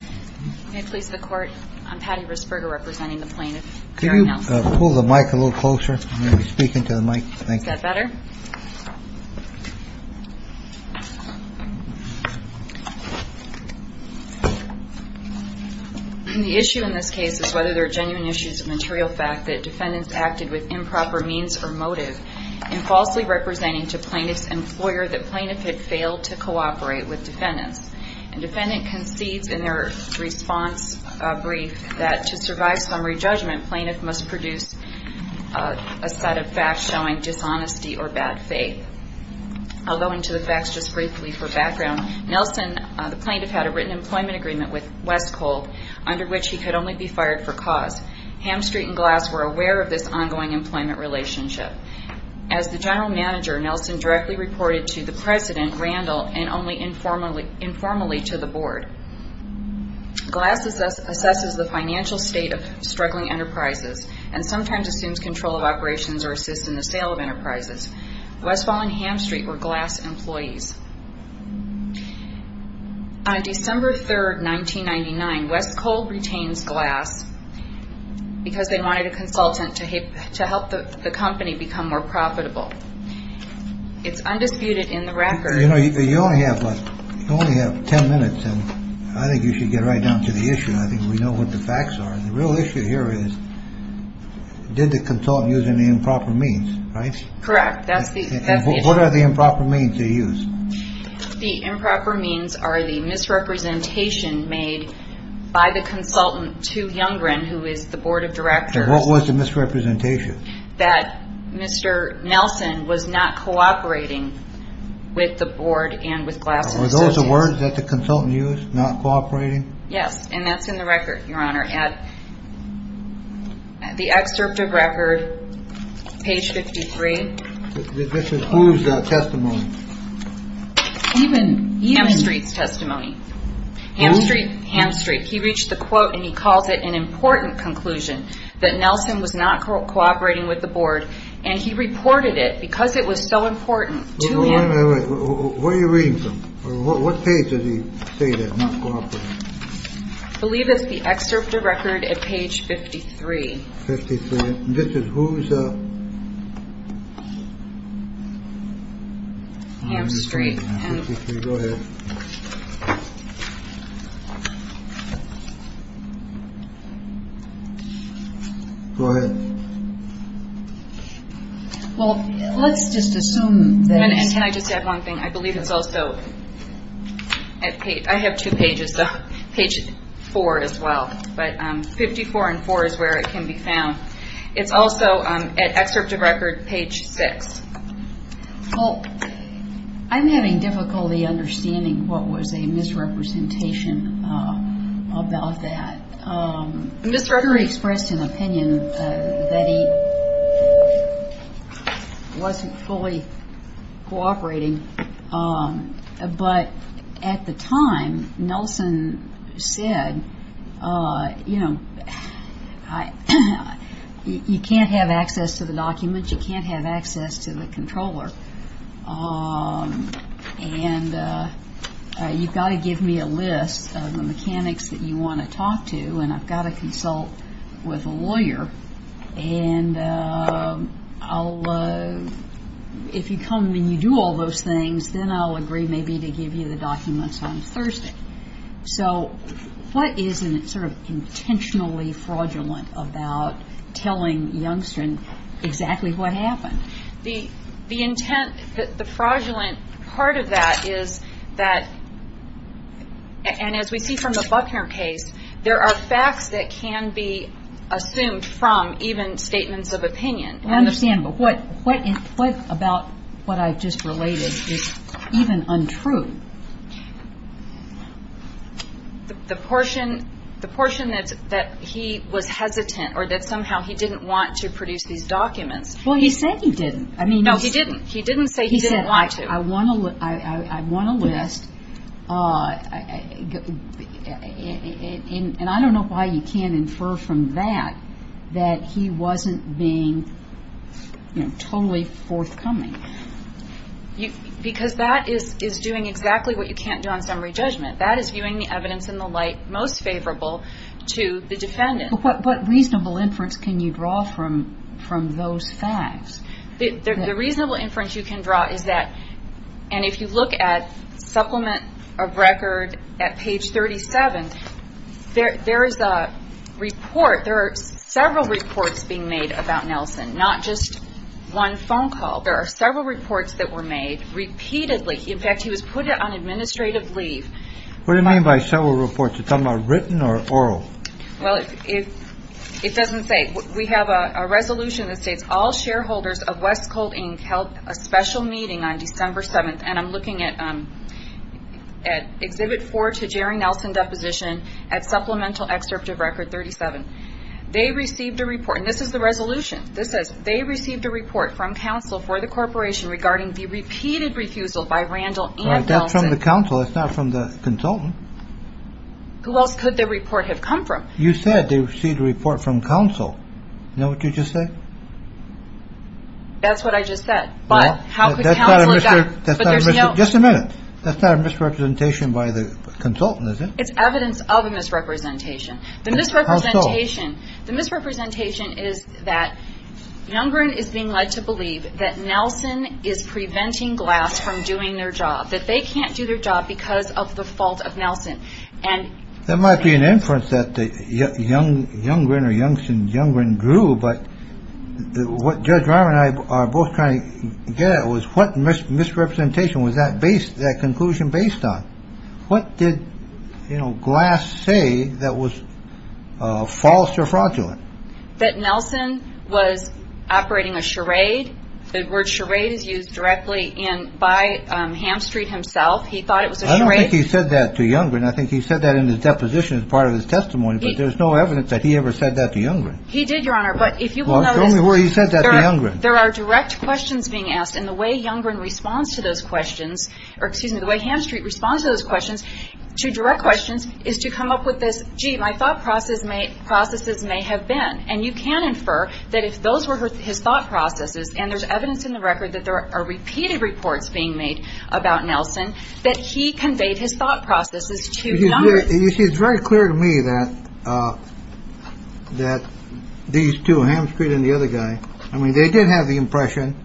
Can I please have the Court? I'm Patty Risperger, representing the plaintiff. Can you pull the mic a little closer? I'm going to be speaking to the mic. Is that better? The issue in this case is whether there are genuine issues of material fact that defendants acted with improper means or motive in falsely representing to plaintiff's employer that plaintiff had failed to cooperate with defendants. And defendant concedes in their response brief that to survive summary judgment, plaintiff must produce a set of facts showing dishonesty or bad faith. I'll go into the facts just briefly for background. Nelson, the plaintiff, had a written employment agreement with Westcole under which he could only be fired for cause. Ham Street and Glass were aware of this ongoing employment relationship. As the general manager, Nelson directly reported to the president, Randall, and only informally to the board. Glass assesses the financial state of struggling enterprises and sometimes assumes control of operations or assists in the sale of enterprises. Westfall and Ham Street were Glass employees. On December 3, 1999, Westcole retains Glass because they wanted a consultant to help the company become more profitable. It's undisputed in the record. You know, you only have ten minutes, and I think you should get right down to the issue. I think we know what the facts are. The real issue here is, did the consultant use any improper means, right? Correct. That's the issue. And what are the improper means they used? The improper means are the misrepresentation made by the consultant to Youngren, who is the board of directors. And what was the misrepresentation? That Mr. Nelson was not cooperating with the board and with Glass. Are those the words that the consultant used, not cooperating? Yes, and that's in the record, Your Honor. At the excerpt of record, page 53. This is whose testimony? Ham Street's testimony. Ham Street. Ham Street. He reached the quote and he calls it an important conclusion that Nelson was not cooperating with the board. And he reported it because it was so important to him. Where are you reading from? What page did he say that? Believe it's the excerpt of record at page 53. This is whose. Ham Street. Go ahead. Go ahead. Well, let's just assume that. And can I just add one thing? I believe it's also I have two pages, page four as well, but 54 and four is where it can be found. It's also at excerpt of record, page six. Well, I'm having difficulty understanding what was a misrepresentation about that. Mr. Henry expressed an opinion that he wasn't fully cooperating. But at the time, Nelson said, you know, you can't have access to the documents. You can't have access to the controller. And you've got to give me a list of the mechanics that you want to talk to. And I've got to consult with a lawyer. And I'll if you come when you do all those things, then I'll agree maybe to give you the documents on Thursday. So what is in it sort of intentionally fraudulent about telling youngstern exactly what happened? The intent, the fraudulent part of that is that and as we see from the Buckner case, there are facts that can be assumed from even statements of opinion. I understand. But what about what I've just related is even untrue? The portion that he was hesitant or that somehow he didn't want to produce these documents. Well, he said he didn't. No, he didn't. He didn't say he didn't want to. He said, I want a list. And I don't know why you can't infer from that that he wasn't being totally forthcoming. Because that is doing exactly what you can't do on summary judgment. That is viewing the evidence in the light most favorable to the defendant. But what reasonable inference can you draw from from those facts? The reasonable inference you can draw is that and if you look at supplement of record at page 37, there is a report. There are several reports being made about Nelson, not just one phone call. There are several reports that were made repeatedly. In fact, he was put on administrative leave. What do you mean by several reports? It's written or oral. Well, if it doesn't say we have a resolution that states all shareholders of West Coal Inc. held a special meeting on December 7th. And I'm looking at at exhibit four to Jerry Nelson deposition at supplemental excerpt of record 37. They received a report. And this is the resolution. This says they received a report from counsel for the corporation regarding the repeated refusal by Randall. That's from the council. It's not from the consultant. Who else could the report have come from? You said they received a report from counsel. You know what you just said? That's what I just said. But how does that matter? Just a minute. That's not a misrepresentation by the consultant. It's evidence of a misrepresentation. The misrepresentation, the misrepresentation is that Younger is being led to believe that Nelson is preventing glass from doing their job. That they can't do their job because of the fault of Nelson. And there might be an inference that the young younger and younger and younger and grew. But what Judge Raman and I are both trying to get at was what misrepresentation was that based? That conclusion based on what did, you know, glass say that was false or fraudulent? That Nelson was operating a charade. The word charade is used directly in by Ham Street himself. He thought it was a charade. He said that to Younger. And I think he said that in his deposition as part of his testimony. But there's no evidence that he ever said that to Younger. He did, Your Honor. But if you don't know where he said that, there are direct questions being asked. And the way Younger in response to those questions or excuse me, the way Ham Street responds to those questions to direct questions is to come up with this. Gee, my thought process may processes may have been and you can infer that if those were his thought processes and there's evidence in the record that there are repeated reports being made about Nelson, that he conveyed his thought processes to Younger. It's very clear to me that that these two Ham Street and the other guy. I mean, they did have the impression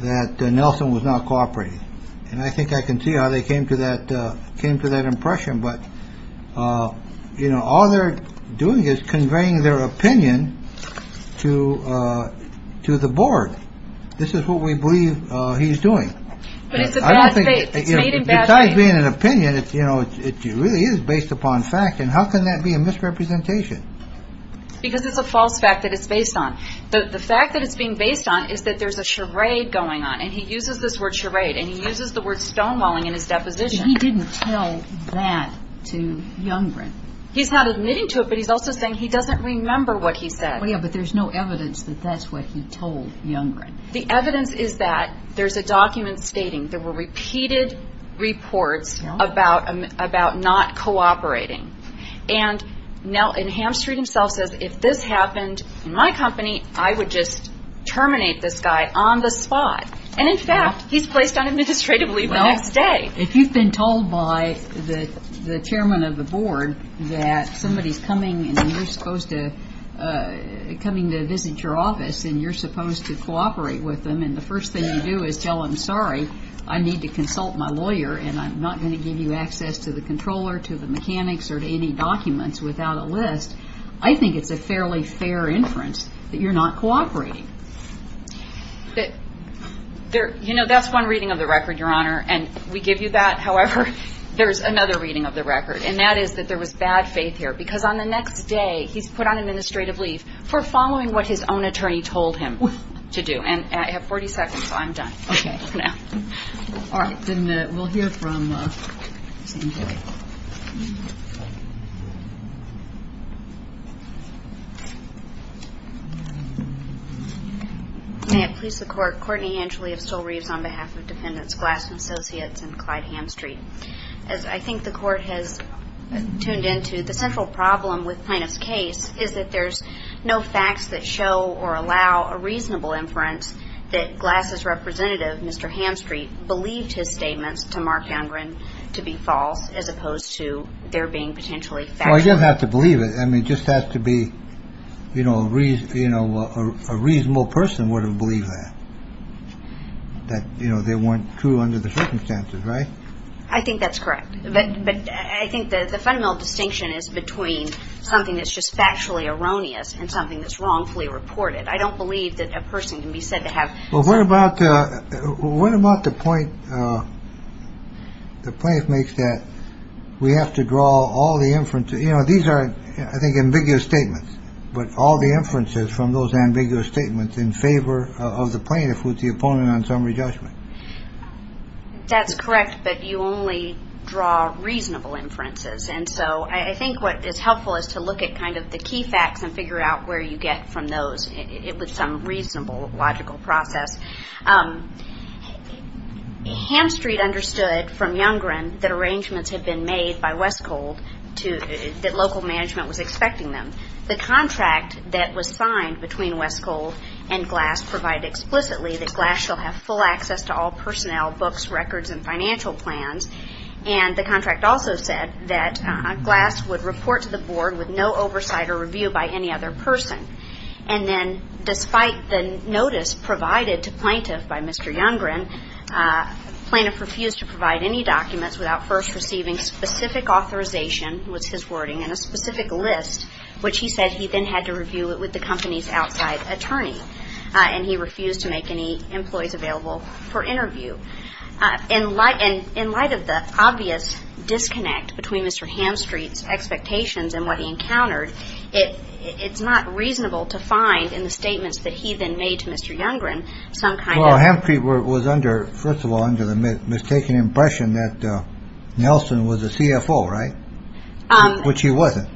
that Nelson was not cooperating. And I think I can see how they came to that, came to that impression. But, you know, all they're doing is conveying their opinion to to the board. This is what we believe he's doing. But it's a bad thing. Besides being an opinion, you know, it really is based upon fact. And how can that be a misrepresentation? Because it's a false fact that it's based on. The fact that it's being based on is that there's a charade going on. And he uses this word charade and he uses the word stonewalling in his deposition. But he didn't tell that to Younger. He's not admitting to it, but he's also saying he doesn't remember what he said. Yeah, but there's no evidence that that's what he told Younger. The evidence is that there's a document stating there were repeated reports about about not cooperating. And now Ham Street himself says, if this happened in my company, I would just terminate this guy on the spot. And in fact, he's placed on administrative leave the next day. If you've been told by the chairman of the board that somebody is coming and you're supposed to coming to visit your office and you're supposed to cooperate with them and the first thing you do is tell them, sorry, I need to consult my lawyer and I'm not going to give you access to the controller, to the mechanics or to any documents without a list. I think it's a fairly fair inference that you're not cooperating. You know, that's one reading of the record, Your Honor. And we give you that. However, there's another reading of the record, and that is that there was bad faith here because on the next day he's put on administrative leave for following what his own attorney told him to do. And I have 40 seconds, so I'm done. Okay. All right. Then we'll hear from Sandra. May it please the Court. Courtney Angeli of Stull Reeves on behalf of defendants Glass and Associates and Clyde Hamstreet. As I think the Court has tuned into, the central problem with plaintiff's case is that there's no facts that show or allow a reasonable inference that Glass's representative, Mr. Hamstreet, believed his statements to Mark Youngren to be false as opposed to their being potentially factual. Well, you don't have to believe it. I mean, it just has to be, you know, a reasonable person would have believed that, that, you know, they weren't true under the circumstances, right? I think that's correct. But I think that the fundamental distinction is between something that's just factually erroneous and something that's wrongfully reported. I don't believe that a person can be said to have. Well, what about the point the plaintiff makes that we have to draw all the inferences? You know, these are, I think, ambiguous statements. But all the inferences from those ambiguous statements in favor of the plaintiff with the opponent on summary judgment. That's correct. But you only draw reasonable inferences. And so I think what is helpful is to look at kind of the key facts and figure out where you get from those with some reasonable logical process. Hamstreet understood from Youngren that arrangements had been made by Westcold, that local management was expecting them. The contract that was signed between Westcold and Glass provided explicitly that Glass shall have full access to all personnel, books, records, and financial plans. And the contract also said that Glass would report to the board with no oversight or review by any other person. And then despite the notice provided to plaintiff by Mr. Youngren, plaintiff refused to provide any documents without first receiving specific authorization, which is his wording, and a specific list, which he said he then had to review with the company's outside attorney. And he refused to make any employees available for interview. In light of the obvious disconnect between Mr. Hamstreet's expectations and what he encountered, it's not reasonable to find in the statements that he then made to Mr. Youngren some kind of- Well, Hamstreet was under, first of all, under the mistaken impression that Nelson was a CFO, right? Which he wasn't.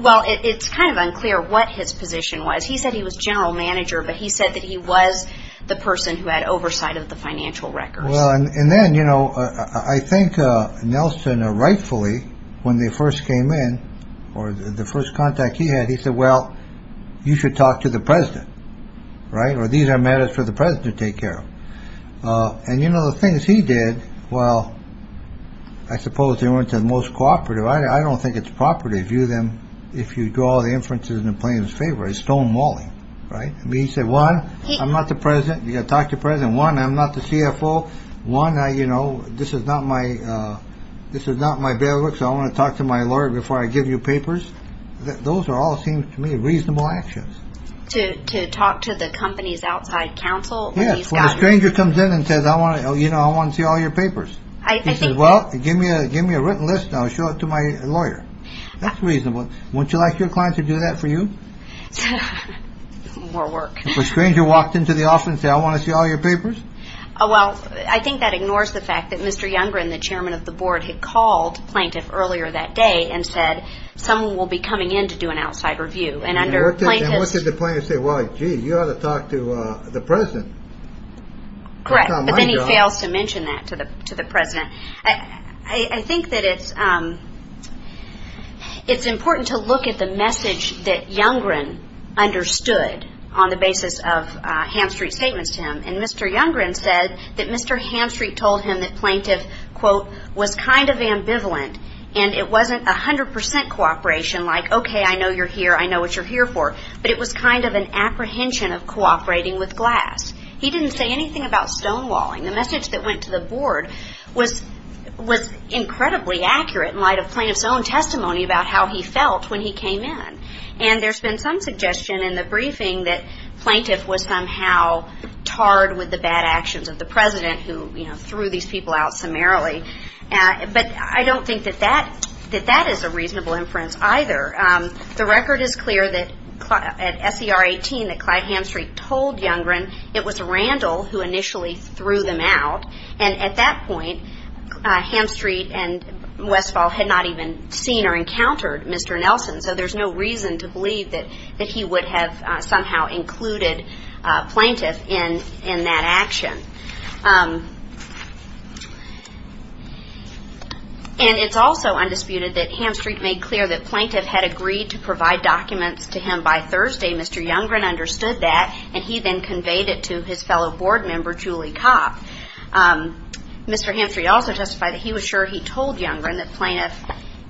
Well, it's kind of unclear what his position was. He said he was general manager, but he said that he was the person who had oversight of the financial records. Well, and then, you know, I think Nelson rightfully, when they first came in or the first contact he had, he said, well, you should talk to the president, right? Or these are matters for the president to take care of. And, you know, the things he did, well, I suppose they weren't the most cooperative. I don't think it's proper to view them if you draw the inferences in the plaintiff's favor. It's stonewalling, right? I mean, he said, one, I'm not the president. You've got to talk to the president. One, I'm not the CFO. One, you know, this is not my bailiff, so I want to talk to my lawyer before I give you papers. Those all seem to me reasonable actions. To talk to the company's outside counsel? Yes, when a stranger comes in and says, you know, I want to see all your papers. He says, well, give me a written list and I'll show it to my lawyer. That's reasonable. Wouldn't you like your client to do that for you? More work. If a stranger walked into the office and said, I want to see all your papers? Well, I think that ignores the fact that Mr. Youngren, the chairman of the board, had called the plaintiff earlier that day and said someone will be coming in to do an outside review. And what did the plaintiff say? Well, gee, you ought to talk to the president. Correct. But then he fails to mention that to the president. I think that it's important to look at the message that Youngren understood on the basis of Hamstreet's statements to him. And Mr. Youngren said that Mr. Hamstreet told him that plaintiff, quote, was kind of ambivalent and it wasn't 100% cooperation like, okay, I know you're here, I know what you're here for. But it was kind of an apprehension of cooperating with Glass. He didn't say anything about stonewalling. The message that went to the board was incredibly accurate in light of plaintiff's own testimony about how he felt when he came in. And there's been some suggestion in the briefing that plaintiff was somehow tarred with the bad actions of the president who, you know, threw these people out summarily. But I don't think that that is a reasonable inference either. The record is clear that at SER 18 that Clyde Hamstreet told Youngren it was Randall who initially threw them out. And at that point, Hamstreet and Westphal had not even seen or encountered Mr. Nelson. So there's no reason to believe that he would have somehow included plaintiff in that action. And it's also undisputed that Hamstreet made clear that plaintiff had agreed to provide documents to him by Thursday. Mr. Youngren understood that and he then conveyed it to his fellow board member, Julie Kopp. Mr. Hamstreet also testified that he was sure he told Youngren that plaintiff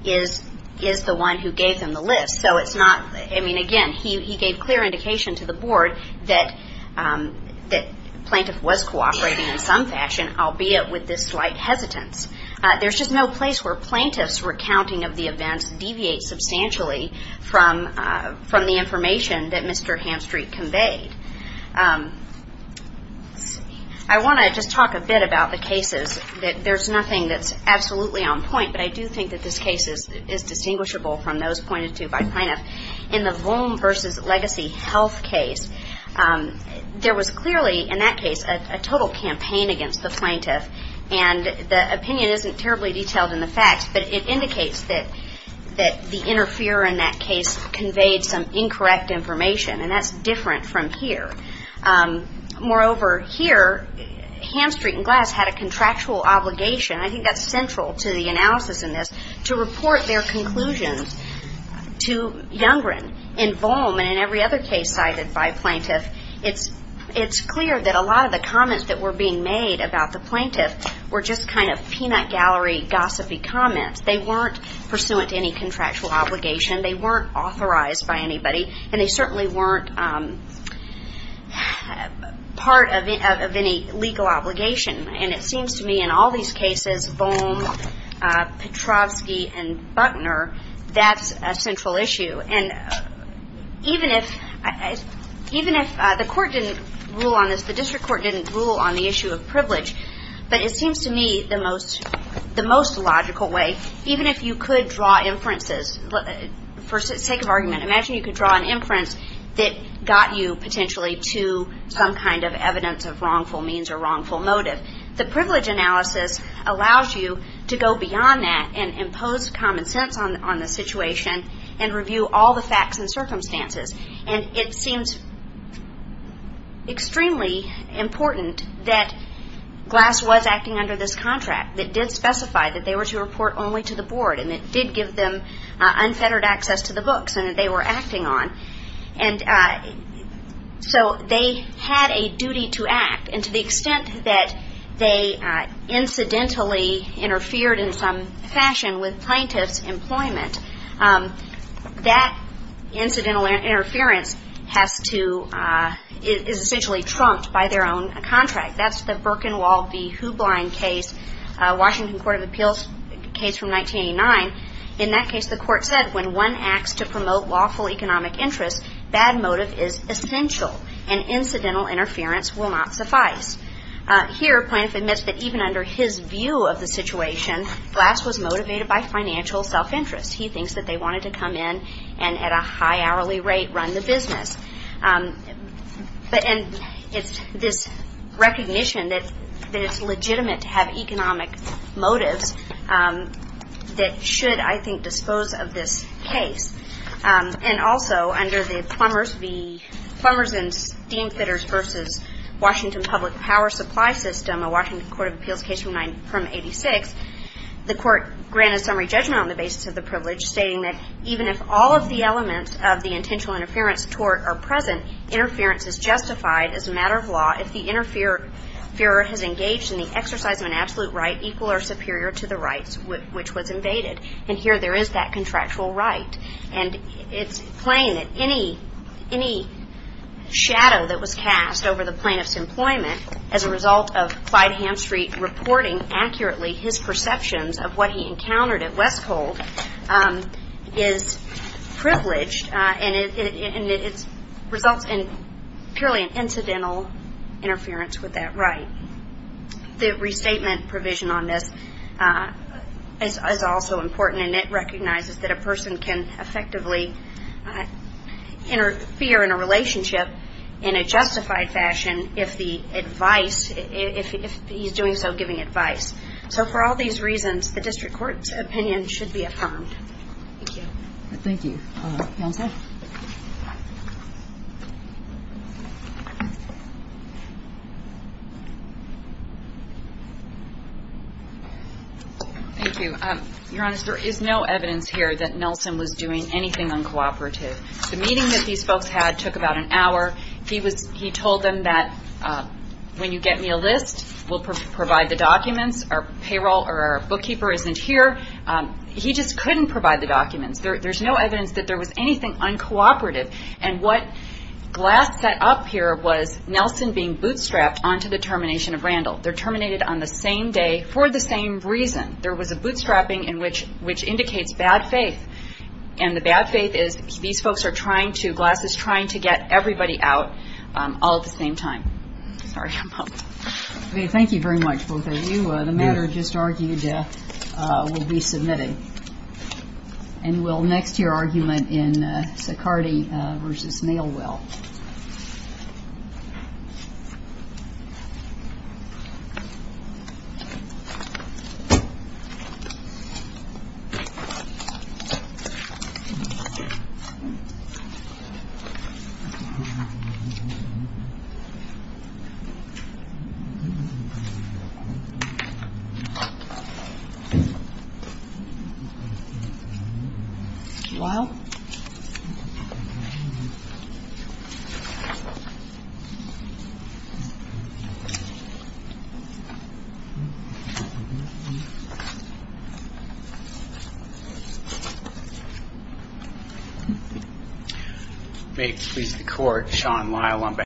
is the one who gave them the list. So it's not, I mean, again, he gave clear indication to the board that plaintiff was cooperating in some fashion, albeit with this slight hesitance. There's just no place where plaintiff's recounting of the events deviates substantially from the information that Mr. Hamstreet conveyed. I want to just talk a bit about the cases. There's nothing that's absolutely on point, but I do think that this case is distinguishable from those pointed to by plaintiff. In the Volm versus Legacy Health case, there was clearly, in that case, a total campaign against the plaintiff. And the opinion isn't terribly detailed in the facts, but it indicates that the interfere in that case conveyed some incorrect information. And that's different from here. Moreover, here, Hamstreet and Glass had a contractual obligation. I think that's central to the analysis in this, to report their conclusions to Youngren. In Volm and in every other case cited by plaintiff, it's clear that a lot of the comments that were being made about the plaintiff were just kind of peanut gallery gossipy comments. They weren't pursuant to any contractual obligation. They weren't authorized by anybody, and they certainly weren't part of any legal obligation. And it seems to me in all these cases, Volm, Petrovsky, and Buckner, that's a central issue. And even if the court didn't rule on this, the district court didn't rule on the issue of privilege, but it seems to me the most logical way, even if you could draw inferences, for sake of argument, imagine you could draw an inference that got you potentially to some kind of evidence of wrongful means or wrongful motive. The privilege analysis allows you to go beyond that and impose common sense on the situation and review all the facts and circumstances. And it seems extremely important that Glass was acting under this contract that did specify that they were to report only to the board, and it did give them unfettered access to the books and that they were acting on. And so they had a duty to act, and to the extent that they incidentally interfered in some fashion with plaintiff's employment, that incidental interference is essentially trumped by their own contract. That's the Birkenwald v. Hoobline case, Washington Court of Appeals case from 1989. In that case, the court said when one acts to promote lawful economic interest, bad motive is essential and incidental interference will not suffice. Here, plaintiff admits that even under his view of the situation, Glass was motivated by financial self-interest. He thinks that they wanted to come in and at a high hourly rate run the business. And it's this recognition that it's legitimate to have economic motives that should, I think, dispose of this case. And also, under the Plumbers and Steamfitters v. Washington Public Power Supply System, a Washington Court of Appeals case from 1986, the court granted summary judgment on the basis of the privilege, stating that even if all of the elements of the intentional interference tort are present, interference is justified as a matter of law if the interferer has engaged in the exercise of an absolute right equal or superior to the rights which was invaded. And here there is that contractual right. And it's plain that any shadow that was cast over the plaintiff's employment as a result of Clyde Hamstreet reporting accurately his perceptions of what he encountered at Westcold is privileged and it results in purely an incidental interference with that right. The restatement provision on this is also important, and it recognizes that a person can effectively interfere in a relationship in a justified fashion if the advice, if he's doing so giving advice. So for all these reasons, the district court's opinion should be affirmed. Thank you. Thank you. Counsel? Thank you. Your Honor, there is no evidence here that Nelson was doing anything uncooperative. The meeting that these folks had took about an hour. He told them that when you get me a list, we'll provide the documents. Our payroll or our bookkeeper isn't here. He just couldn't provide the documents. There's no evidence that there was anything uncooperative. And what Glass set up here was Nelson being bootstrapped onto the termination of Randall. They're terminated on the same day for the same reason. There was a bootstrapping, which indicates bad faith. And the bad faith is these folks are trying to, Glass is trying to get everybody out all at the same time. Sorry. Thank you very much, both of you. The matter just argued will be submitted. And we'll next hear argument in Sicardi v. Mailwell. Lyle? May it please the Court, Sean Lyle on behalf.